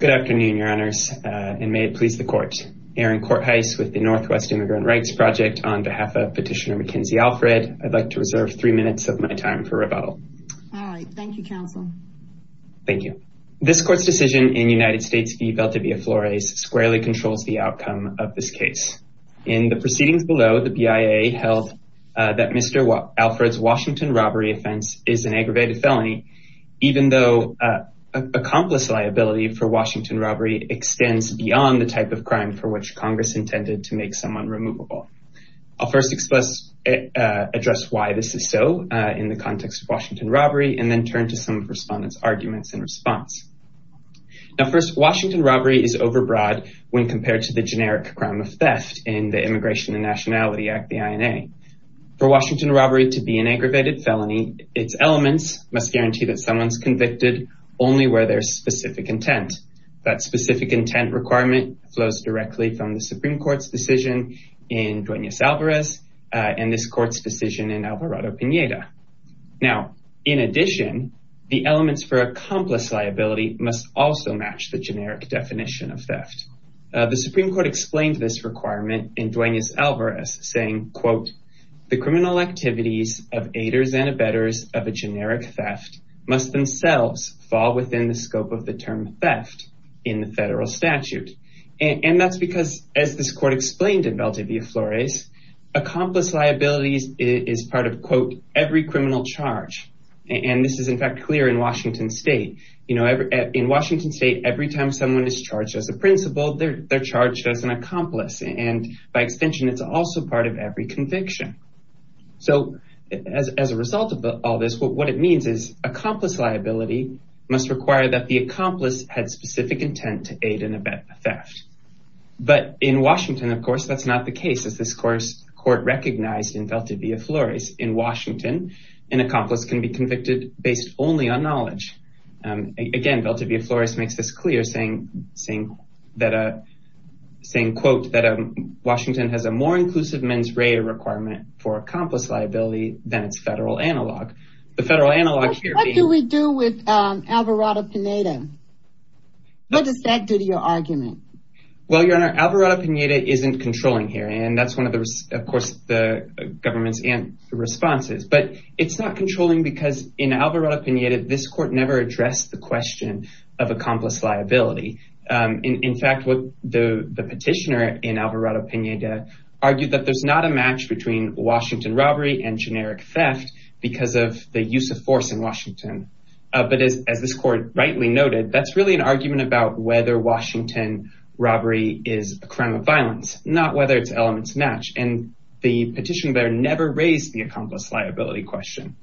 Good afternoon, your honors, and may it please the court. Aaron Courtheis with the Northwest Immigrant Rights Project on behalf of Petitioner Makenzy Alfred. I'd like to reserve three minutes of my time for rebuttal. All right. Thank you, counsel. Thank you. This court's decision in United States v. Veltivea Flores squarely controls the outcome of this case. In the proceedings below, the BIA held that Mr. Alfred's Washington Robbery offense is an aggravated felony, even though accomplice liability for Washington Robbery extends beyond the type of crime for which Congress intended to make someone removable. I'll first address why this is so in the context of Washington Robbery and then turn to some of respondents' arguments in response. Now, first, Washington Robbery is overbroad when compared to the generic crime of theft in the Immigration and Nationality Act, the INA. For Washington Robbery to be an aggravated felony, its elements must guarantee that someone's convicted only where there's specific intent. That specific intent requirement flows directly from the Supreme Court's decision in Duenas Alvarez and this court's decision in Alvarado-Pineda. Now, in addition, the elements for accomplice liability must also match the generic definition of theft. The Supreme Court explained this requirement in Duenas Alvarez, saying, quote, The criminal activities of aiders and abettors of a generic theft must themselves fall within the scope of the term theft in the federal statute. And that's because, as this court explained in Valdivia Flores, accomplice liabilities is part of, quote, every criminal charge. And this is, in fact, clear in Washington state. You know, in Washington state, every time someone is charged as a principal, they're By extension, it's also part of every conviction. So as a result of all this, what it means is accomplice liability must require that the accomplice had specific intent to aid in a theft. But in Washington, of course, that's not the case, as this court recognized in Valdivia Flores. In Washington, an accomplice can be convicted based only on knowledge. Again, Valdivia Flores makes this clear, saying, quote, that Washington has a more inclusive mens rea requirement for accomplice liability than its federal analog. The federal analog. What do we do with Alvarado-Pineda? What does that do to your argument? Well, Your Honor, Alvarado-Pineda isn't controlling here. And that's one of the, of course, the government's responses. But it's not controlling because in Alvarado-Pineda, this court never addressed the question of accomplice liability. In fact, what the petitioner in Alvarado-Pineda argued that there's not a match between Washington robbery and generic theft because of the use of force in Washington. But as this court rightly noted, that's really an argument about whether Washington robbery is a crime of violence, not whether its elements match. And the petitioner there never raised the accomplice liability question.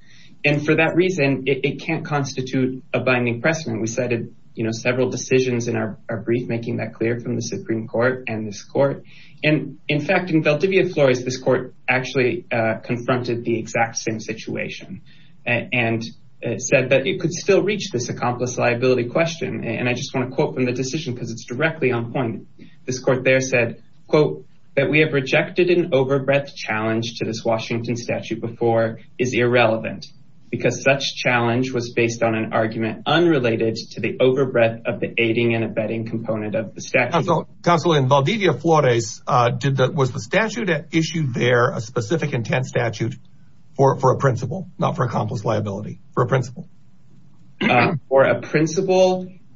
And for that reason, it can't constitute a binding precedent. We cited several decisions in our brief making that clear from the Supreme Court and this court. And in fact, in Valdivia Flores, this court actually confronted the exact same situation and said that it could still reach this accomplice liability question. And I just want to quote from the decision because it's directly on point. This court there said, quote, that we have rejected an overbreadth challenge to this Washington statute before is irrelevant because such challenge was based on an argument unrelated to the overbreadth of the aiding and abetting component of the statute. Counsel, in Valdivia Flores, was the statute issued there a specific intent statute for a principle, not for accomplice liability, for a principle? I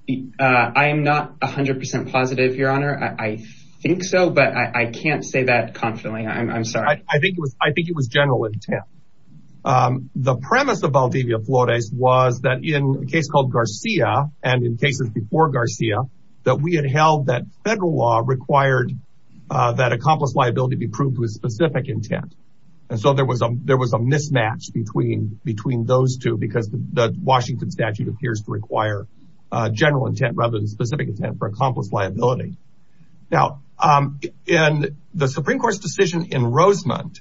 am not a hundred percent positive, your honor. I think so, but I can't say that confidently. I'm sorry. I think it was general intent. The premise of Valdivia Flores was that in a case called Garcia and in cases before Garcia, that we had held that federal law required that accomplice liability be proved with specific intent. And so there was a mismatch between those two because the Washington statute appears to require general intent rather than specific intent for accomplice liability. Now, in the Supreme Court's decision in Rosemont,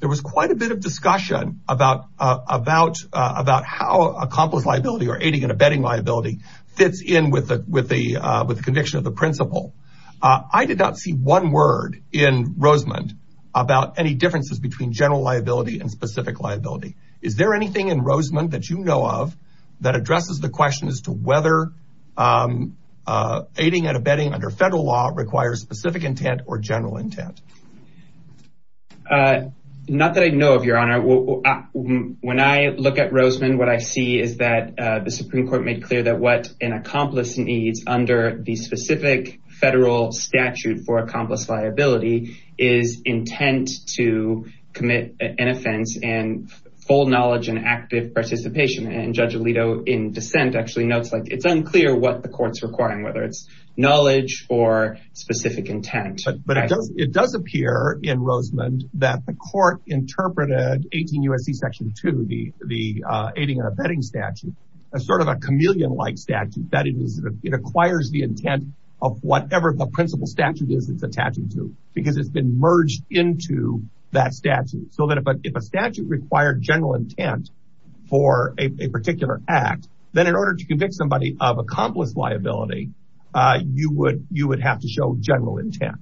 there was quite a bit of discussion about how accomplice liability or aiding and abetting liability fits in with the conviction of the principle. I did not see one word in Rosemont about any differences between general liability and specific liability. Is there anything in Rosemont that you know of that addresses the question as to whether aiding and abetting under federal law requires specific intent or general intent? Not that I know of, your honor. When I look at Rosemont, what I see is that the Supreme Court made clear that what an specific federal statute for accomplice liability is intent to commit an offense and full knowledge and active participation. And Judge Alito in dissent actually notes like it's unclear what the court's requiring, whether it's knowledge or specific intent. But it does appear in Rosemont that the court interpreted 18 U.S.C. Section 2, the aiding and abetting statute, as sort of a chameleon-like statute that it requires the intent of whatever the principle statute is it's attaching to, because it's been merged into that statute. So that if a statute required general intent for a particular act, then in order to convict somebody of accomplice liability, you would have to show general intent.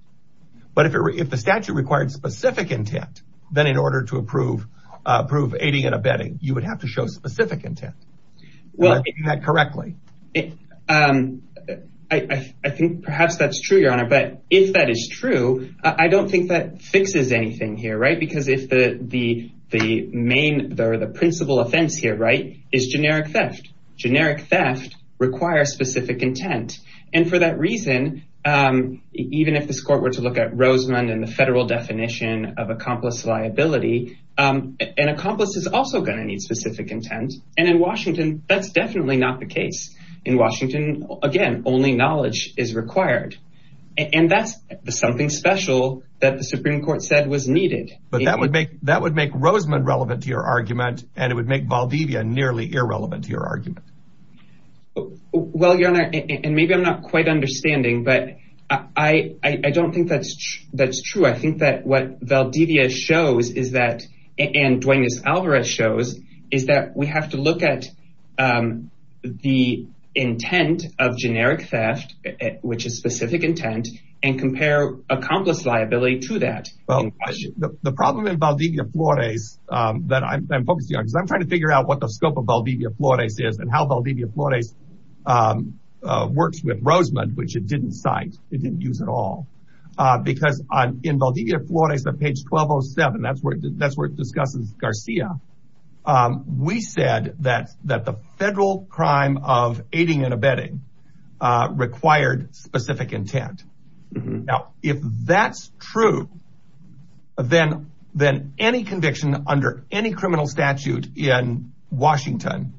But if the statute required specific intent, then in order to approve aiding and abetting, you would have to show specific intent. Am I getting that correctly? I think perhaps that's true, Your Honor. But if that is true, I don't think that fixes anything here. Right. Because if the main or the principal offense here, right, is generic theft, generic theft requires specific intent. And for that reason, even if this court were to look at Rosemont and the federal definition of accomplice liability, an accomplice is also going to need specific intent. And in Washington, that's definitely not the case. In Washington, again, only knowledge is required. And that's something special that the Supreme Court said was needed. But that would make that would make Rosemont relevant to your argument, and it would make Valdivia nearly irrelevant to your argument. Well, Your Honor, and maybe I'm not quite understanding, but I don't think that's that's true. I think that what Valdivia shows is that and Dwayne's Alvarez shows is that we have to look at the intent of generic theft, which is specific intent, and compare accomplice liability to that. Well, the problem in Valdivia Flores that I'm focusing on, because I'm trying to figure out what the scope of Valdivia Flores is and how Valdivia Flores works with Rosemont, which it didn't cite, it didn't use at all, because in Valdivia Flores on page 1207, that's where that's where it discusses Garcia. We said that that the federal crime of aiding and abetting required specific intent. Now, if that's true, then then any conviction under any criminal statute in Washington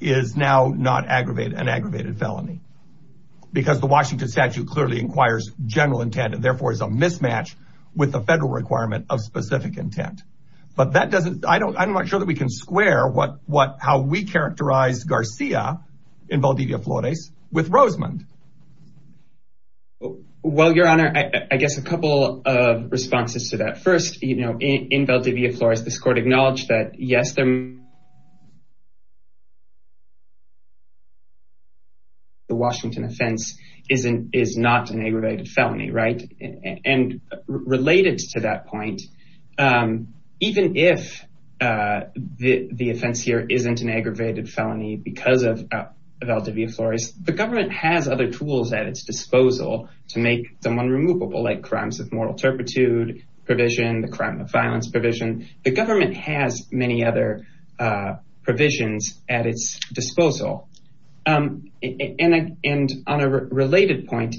is now not aggravated an aggravated felony because the Washington statute clearly inquires general intent and therefore is a mismatch with the federal requirement of specific intent. But that doesn't I don't I'm not sure that we can square what what how we characterize Garcia in Valdivia Flores with Rosemont. Well, Your Honor, I guess a couple of responses to that first, you know, in Valdivia Flores, this court acknowledged that, yes, the Washington offense is an is not an aggravated felony. Right. And related to that point, even if the offense here isn't an aggravated felony because of Valdivia Flores, the government has other tools at its disposal to make someone removable, like crimes of moral turpitude provision, the crime of violence provision. And on a related point,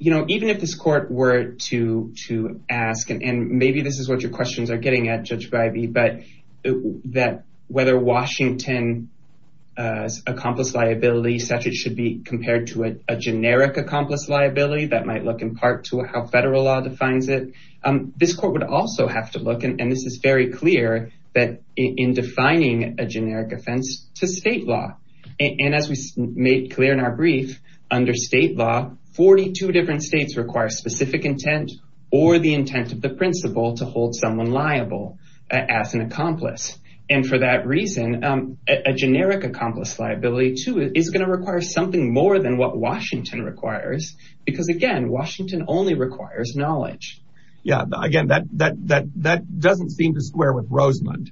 you know, even if this court were to to ask and maybe this is what your questions are getting at, Judge Bivey, but that whether Washington's accomplice liability statute should be compared to a generic accomplice liability, that might look in part to how federal law defines it. This court would also have to look, and this is very clear that in defining a generic offense to state law and as we made clear in our brief under state law, 42 different states require specific intent or the intent of the principal to hold someone liable as an accomplice. And for that reason, a generic accomplice liability, too, is going to require something more than what Washington requires, because, again, Washington only requires knowledge. Yeah, again, that that that that doesn't seem to square with Rosemond.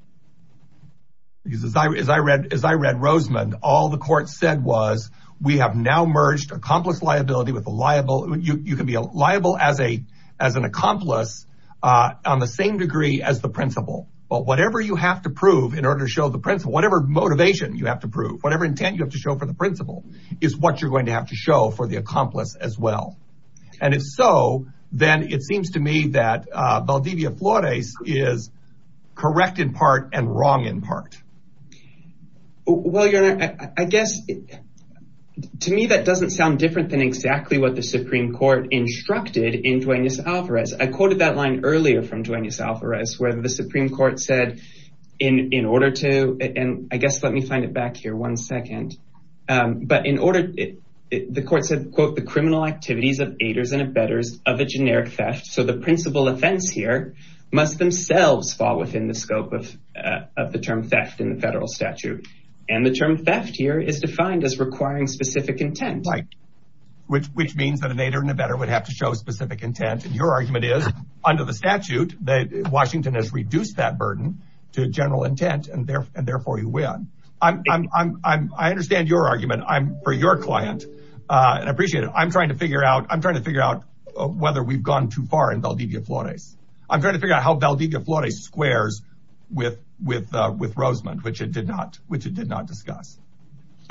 Because as I as I read, as I read Rosemond, all the court said was we have now merged accomplice liability with a liable you can be liable as a as an accomplice on the same degree as the principal. But whatever you have to prove in order to show the principal, whatever motivation you have to prove, whatever intent you have to show for the principal is what you're going to have to show for the accomplice as well. And if so, then it seems to me that Valdivia Flores is correct in part and wrong in part. Well, your honor, I guess to me that doesn't sound different than exactly what the Supreme Court instructed in Duenas Alvarez. I quoted that line earlier from Duenas Alvarez, where the Supreme Court said in order to and I guess let me find it back here one second. But in order, the court said, quote, the criminal activities of aiders and abettors of a generic theft. So the principal offense here must themselves fall within the scope of of the term theft in the federal statute. And the term theft here is defined as requiring specific intent, like which which means that an aider and abettor would have to show specific intent. And your argument is under the statute that Washington has reduced that burden to general intent and therefore you win. I'm I'm I'm I understand your argument. I'm for your client and appreciate it. I'm trying to figure out I'm trying to figure out whether we've gone too far in Valdivia Flores. I'm trying to figure out how Valdivia Flores squares with with with Rosamond, which it did not, which it did not discuss.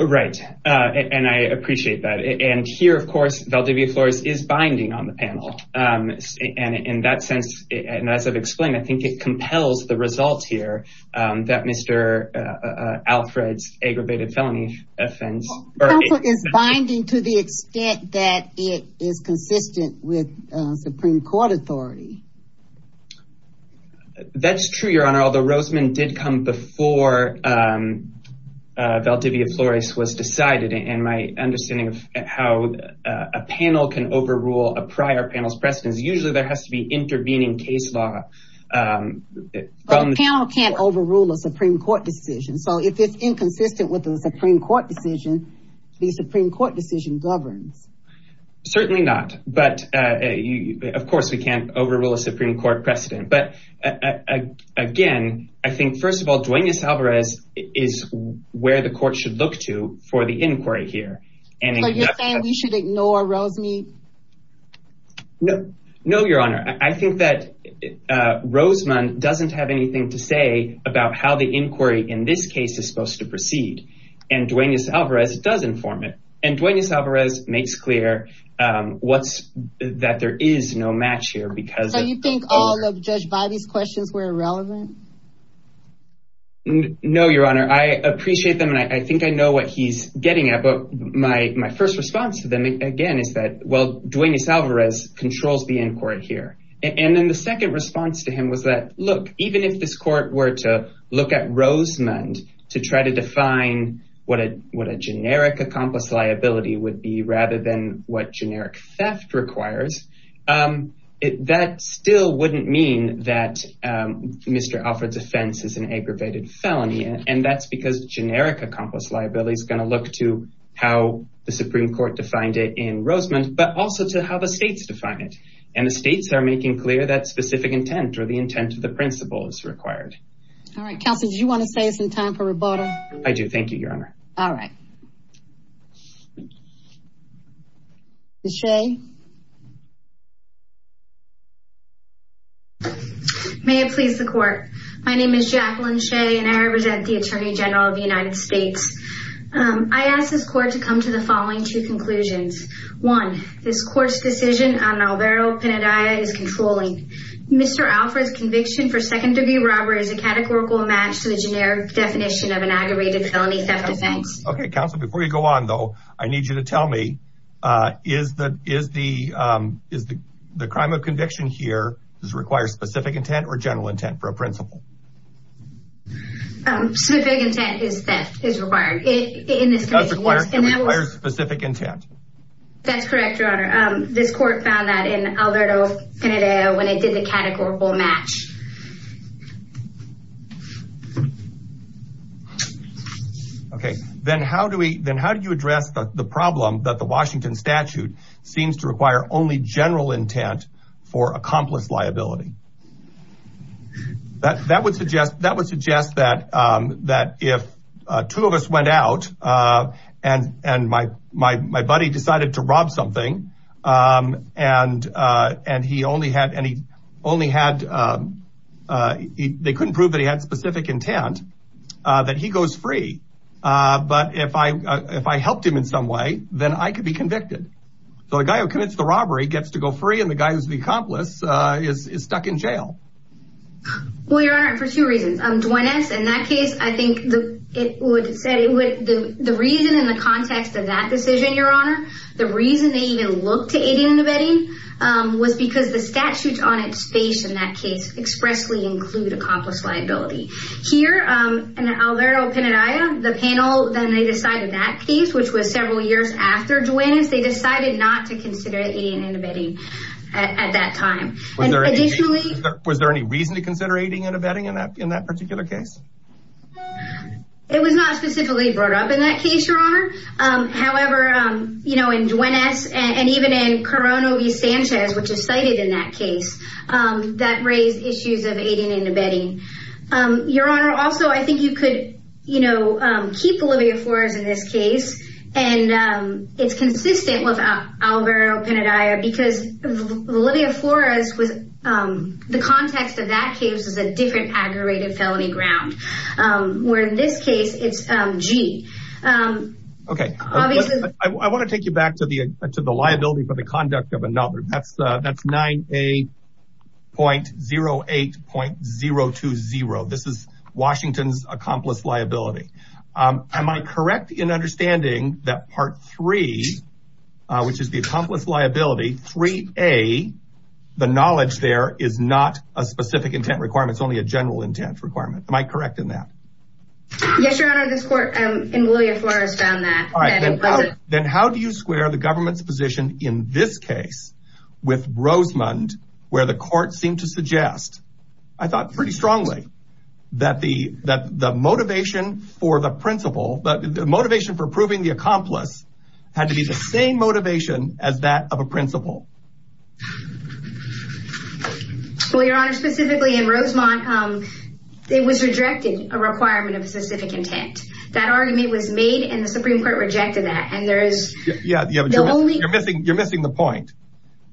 Right. And I appreciate that. And here, of course, Valdivia Flores is binding on the panel. And in that sense, and as I've explained, I think it compels the results here that Mr. Alfred's aggravated felony offense is binding to the extent that it is consistent with Supreme Court authority. That's true, Your Honor, although Rosamond did come before Valdivia Flores was decided and my understanding of how a panel can overrule a prior panel's precedence, usually there has to be intervening case law. Panel can't overrule a Supreme Court decision. So if it's inconsistent with the Supreme Court decision, the Supreme Court decision governs. Certainly not. But of course, we can't overrule a Supreme Court precedent. But again, I think, first of all, Duenas Alvarez is where the court should look to for the inquiry here. And you're saying we should ignore Rosamond? No, no, Your Honor, I think that Rosamond doesn't have anything to say about how the inquiry in this case is supposed to proceed. And Duenas Alvarez does inform it. And Duenas Alvarez makes clear what's that there is no match here because you think all of Judge Biby's questions were irrelevant. No, Your Honor, I appreciate them, and I think I know what he's getting at, but my first response to them, again, is that, well, Duenas Alvarez controls the inquiry here. And then the second response to him was that, look, even if this court were to look at Rosamond to try to define what a generic accomplice liability would be rather than what generic theft requires, that still wouldn't mean that Mr. Alvarez's offense is an aggravated felony. And that's because generic accomplice liability is going to look to how the Supreme Court defined it in Rosamond, but also to how the states define it. And the states are making clear that specific intent or the intent of the principle is required. All right, Counselor, do you want to say it's in time for rebuttal? I do. Thank you, Your Honor. All right. Ms. Shea. May it please the court. My name is Jacqueline Shea, and I represent the Attorney General of the United States. I ask this court to come to the following two conclusions. One, this court's decision on Alvaro Pinedaia is controlling. Mr. Alvarez's conviction for second-degree robbery is a categorical match to the generic definition of an aggravated felony theft offense. Okay, Counselor, before you go on, though, I need you to tell me, is the crime of conviction here, does it require specific intent or general intent for a principle? Specific intent is required in this case. It does require specific intent. That's correct, Your Honor. This court found that in Alvaro Pinedaia when it did the categorical match. Okay, then how do we then how do you address the problem that the Washington statute seems to require only general intent for accomplice liability? That would suggest that would suggest that if two of us went out and my buddy decided to they couldn't prove that he had specific intent, that he goes free. But if I if I helped him in some way, then I could be convicted. So the guy who commits the robbery gets to go free and the guy who's the accomplice is stuck in jail. Well, Your Honor, for two reasons, Duane S. In that case, I think it would say the reason in the context of that decision, Your Honor, the reason they even look to aiding and abetting was because the statutes on its face in that case expressly include accomplice liability here and Alvaro Pinedaia, the panel. Then they decided that case, which was several years after Duane S. They decided not to consider aiding and abetting at that time. And additionally, was there any reason to consider aiding and abetting in that in that particular case? However, you know, in Duane S. And even in Corona V. Sanchez, which is cited in that case that raised issues of aiding and abetting. Your Honor, also, I think you could, you know, keep Olivia Flores in this case. And it's consistent with Alvaro Pinedaia because Olivia Flores was the context of that case is a felony ground, where in this case, it's G. Okay, I want to take you back to the to the liability for the conduct of another. That's that's 9A.08.020. This is Washington's accomplice liability. Am I correct in understanding that Part 3, which is the accomplice liability, 3A, the knowledge there is not a specific intent requirement. It's only a general intent requirement. Am I correct in that? Yes, Your Honor. This court in Olivia Flores found that. Then how do you square the government's position in this case with Rosemond, where the court seemed to suggest? I thought pretty strongly that the that the motivation for the principal, but the motivation for proving the accomplice had to be the same motivation as that of a principal. Well, Your Honor, specifically in Rosemont, it was rejected a requirement of specific intent. That argument was made and the Supreme Court rejected that. And there is. Yeah, yeah, but you're missing. You're missing the point.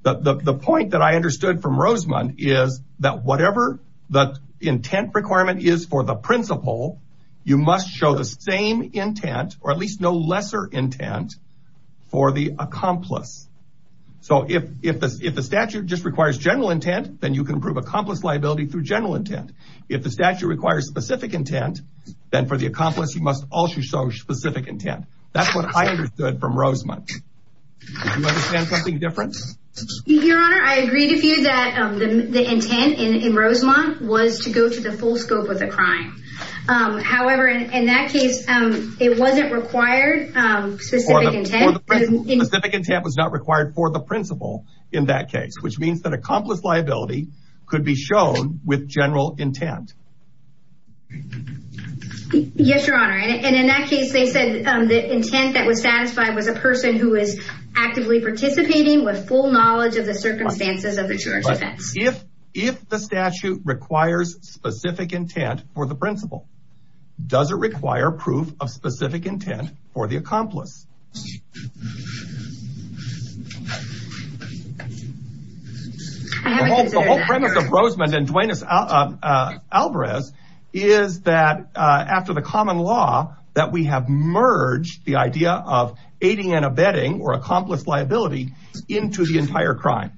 The point that I understood from Rosemont is that whatever the intent requirement is for the principal, you must show the same intent or at least no lesser intent for the accomplice. So if if if the statute just requires general intent, then you can prove accomplice liability through general intent. If the statute requires specific intent, then for the accomplice, you must also show specific intent. That's what I understood from Rosemont. Do you understand something different? Your Honor, I agree with you that the intent in Rosemont was to go to the full scope of the crime. However, in that case, it wasn't required. Specific intent was not required for the principal in that case, which means that accomplice liability could be shown with general intent. Yes, Your Honor. And in that case, they said the intent that was satisfied was a person who is actively participating with full knowledge of the circumstances of the church. If the statute requires specific intent for the principal, does it require proof of specific intent for the accomplice? The whole premise of Rosemont and Duane Alvarez is that after the common law that we have merged the idea of aiding and abetting or accomplice liability into the entire crime.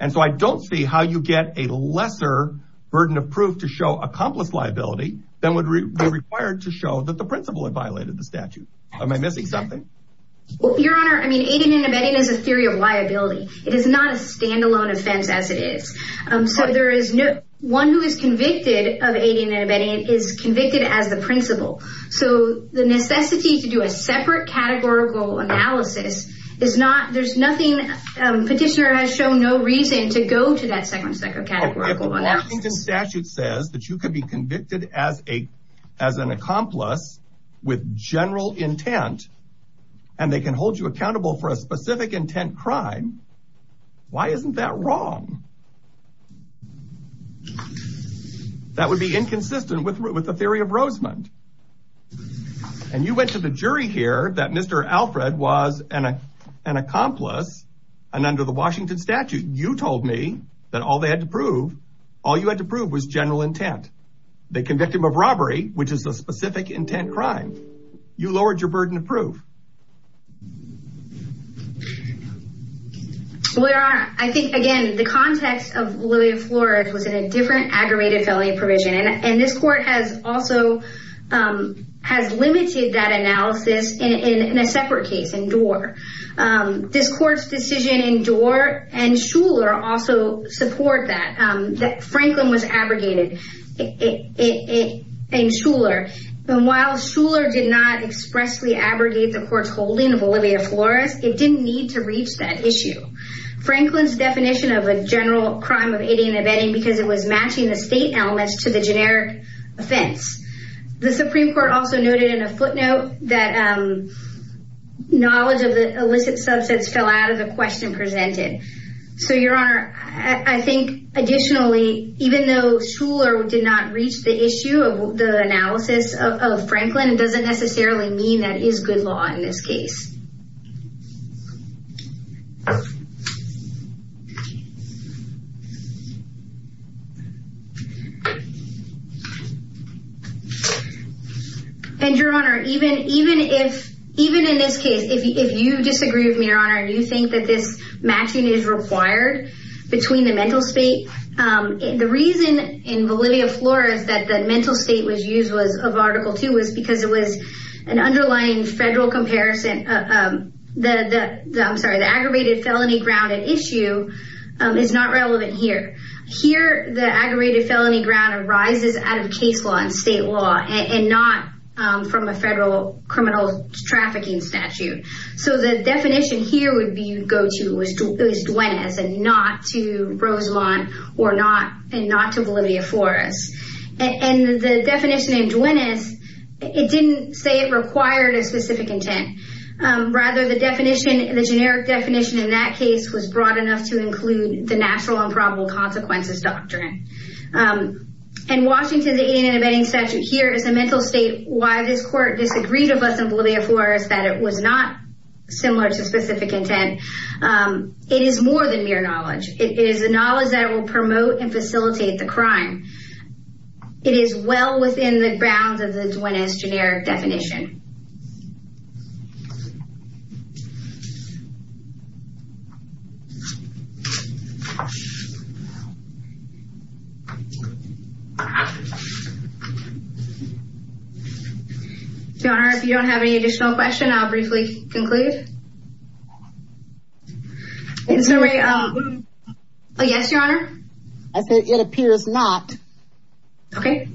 And so I don't see how you get a lesser burden of proof to show accomplice liability than would be required to show that the principal had violated the statute. Am I missing something? Your Honor, I mean, aiding and abetting is a theory of liability. It is not a standalone offense as it is. So there is no one who is convicted of aiding and abetting is convicted as the principal. So the necessity to do a separate categorical analysis is not there's nothing. Petitioner has shown no reason to go to that second categorical. The statute says that you could be convicted as an accomplice with general intent and they can hold you accountable for a specific intent crime. Why isn't that wrong? That would be inconsistent with the theory of Rosemont. And you went to the jury here that Mr. Alfred was an accomplice and under the Washington statute, you told me that all they had to prove, all you had to prove was general intent. They convicted him of robbery, which is a specific intent crime. You lowered your burden of proof. Well, Your Honor, I think, again, the context of Lillian Flores was in a different aggravated felony provision. And this court has also has limited that analysis in a separate case, in Doar. This court's decision in Doar and Shuler also support that. Franklin was abrogated in Shuler. But while Shuler did not expressly abrogate the court's holding of Olivia Flores, it didn't need to reach that issue. Franklin's definition of a general crime of aiding and abetting because it was matching the state elements to the generic offense. The Supreme Court also noted in a footnote that knowledge of the illicit subsets fell out of the question presented. So, Your Honor, I think additionally, even though Shuler did not reach the issue of the analysis of Franklin, it doesn't necessarily mean that is good law in this case. And, Your Honor, even if, even in this case, if you disagree with me, Your Honor, and you think that this matching is required between the mental state, the reason in Olivia Flores that the mental state was used was of Article 2 was because it was an underlying federal comparison. I'm sorry, the aggravated felony grounded issue is not relevant here. Here, the aggravated felony ground arises out of case law in state law. And not from a federal criminal trafficking statute. So, the definition here would be you go to, it was Duenas and not to Roselon or not, and not to Olivia Flores. And the definition in Duenas, it didn't say it required a specific intent. Rather, the definition, the generic definition in that case was broad enough to include the natural and probable consequences doctrine. In Washington, the Indian Abetting Statute here is a mental state. Why this court disagreed with us in Olivia Flores is that it was not similar to specific intent. It is more than mere knowledge. It is the knowledge that will promote and facilitate the crime. It is well within the grounds of the Duenas generic definition. Your Honor, if you don't have any additional questions, I'll briefly conclude. In summary, yes, Your Honor? I think it appears not. Okay.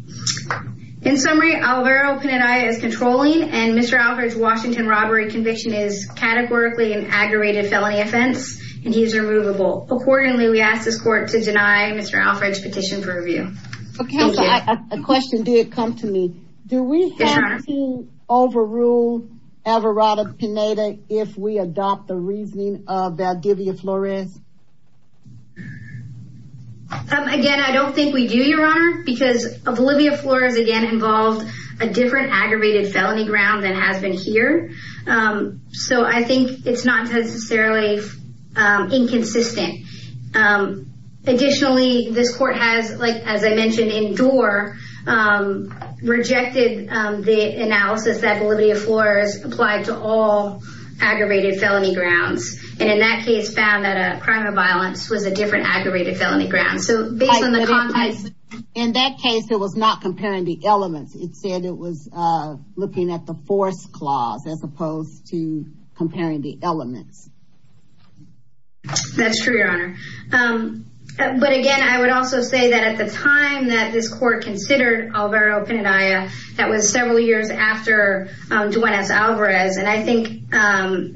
In summary, Alvaro Pinedaia is controlling, and Mr. Alfred's Washington robbery conviction is categorically an aggravated felony offense, and he is removable. Accordingly, we ask this court to deny Mr. Alfred's petition for review. Okay, a question did come to me. Do we have to overrule Alvaro Pinedaia if we adopt the reasoning of Olivia Flores? Again, I don't think we do, Your Honor, because of Olivia Flores, again, involved a different aggravated felony ground than has been here. So I think it's not necessarily inconsistent. Additionally, this court has, as I mentioned in Doar, rejected the analysis that Olivia Flores applied to all aggravated felony grounds, and in that case found that a crime of violence was a different aggravated felony ground. So based on the context... In that case, it was not comparing the elements. It said it was looking at the force clause as opposed to comparing the elements. That's true, Your Honor. But again, I would also say that at the time that this court considered Alvaro Pinedaia, that was several years after Juanez Alvarez, and I think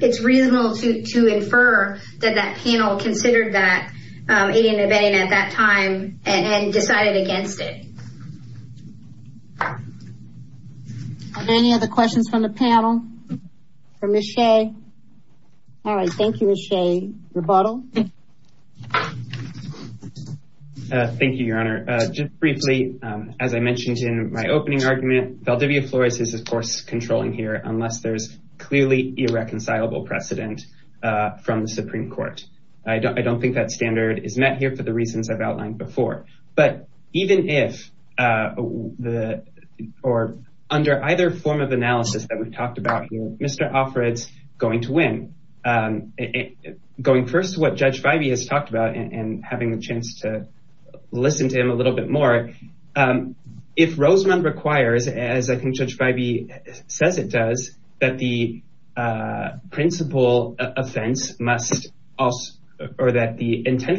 it's reasonable to infer that that panel considered that aiding and abetting at that time and decided against it. Are there any other questions from the panel? From Ms. Shea? All right. Thank you, Ms. Shea. Rebuttal? Thank you, Your Honor. Just briefly, as I mentioned in my opening argument, Valdivia Flores is, of course, controlling here, unless there's clearly irreconcilable precedent from the Supreme Court. I don't think that standard is met here for the reasons I've outlined before. But even if, or under either form of analysis that we've talked about here, Mr. Offred's going to win. Going first to what Judge Vibey has talked about and having the chance to listen to him a little bit more. If Rosamond requires, as I think Judge Vibey says it does, that the intent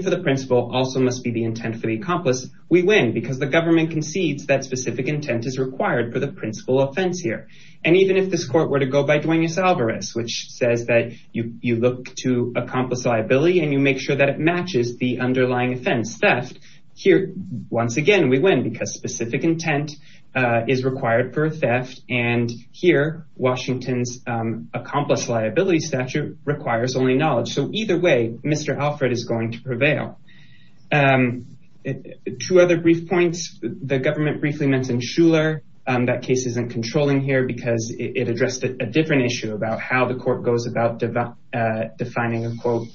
for the principle also must be the intent for the accomplice, we win because the government concedes that specific intent is required for the principal offense here. And even if this court were to go by Duenas-Alvarez, which says that you look to accomplice liability and you make sure that it matches the underlying offense, theft, here, once again, we win because specific intent is required for theft. And here, Washington's accomplice liability statute requires only knowledge. So either way, Mr. Offred is going to prevail. Two other brief points. The government briefly mentioned Shuler. That case isn't controlling here because it addressed a different issue about how the court goes about defining a quote,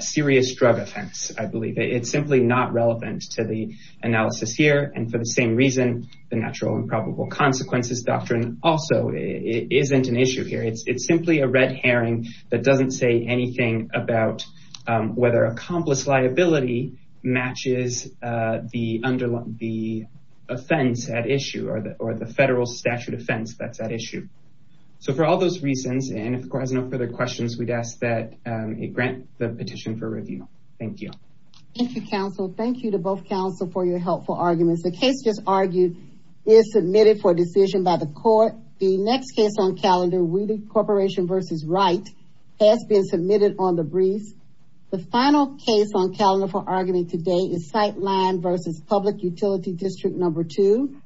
serious drug offense. I believe it's simply not relevant to the analysis here. And for the same reason, the natural and probable consequences doctrine also isn't an issue here. It's simply a red herring that doesn't say anything about whether accomplice liability matches the offense at issue or the federal statute offense that's at issue. So for all those reasons, and if the court has no further questions, we'd ask that it grant the petition for review. Thank you. Thank you, counsel. Thank you to both counsel for your helpful arguments. The case just argued is submitted for decision by the court. The next case on calendar, Wheatley Corporation v. Wright has been submitted on the briefs. The final case on calendar for arguing today is Sightline v. Public Utility District No. 2.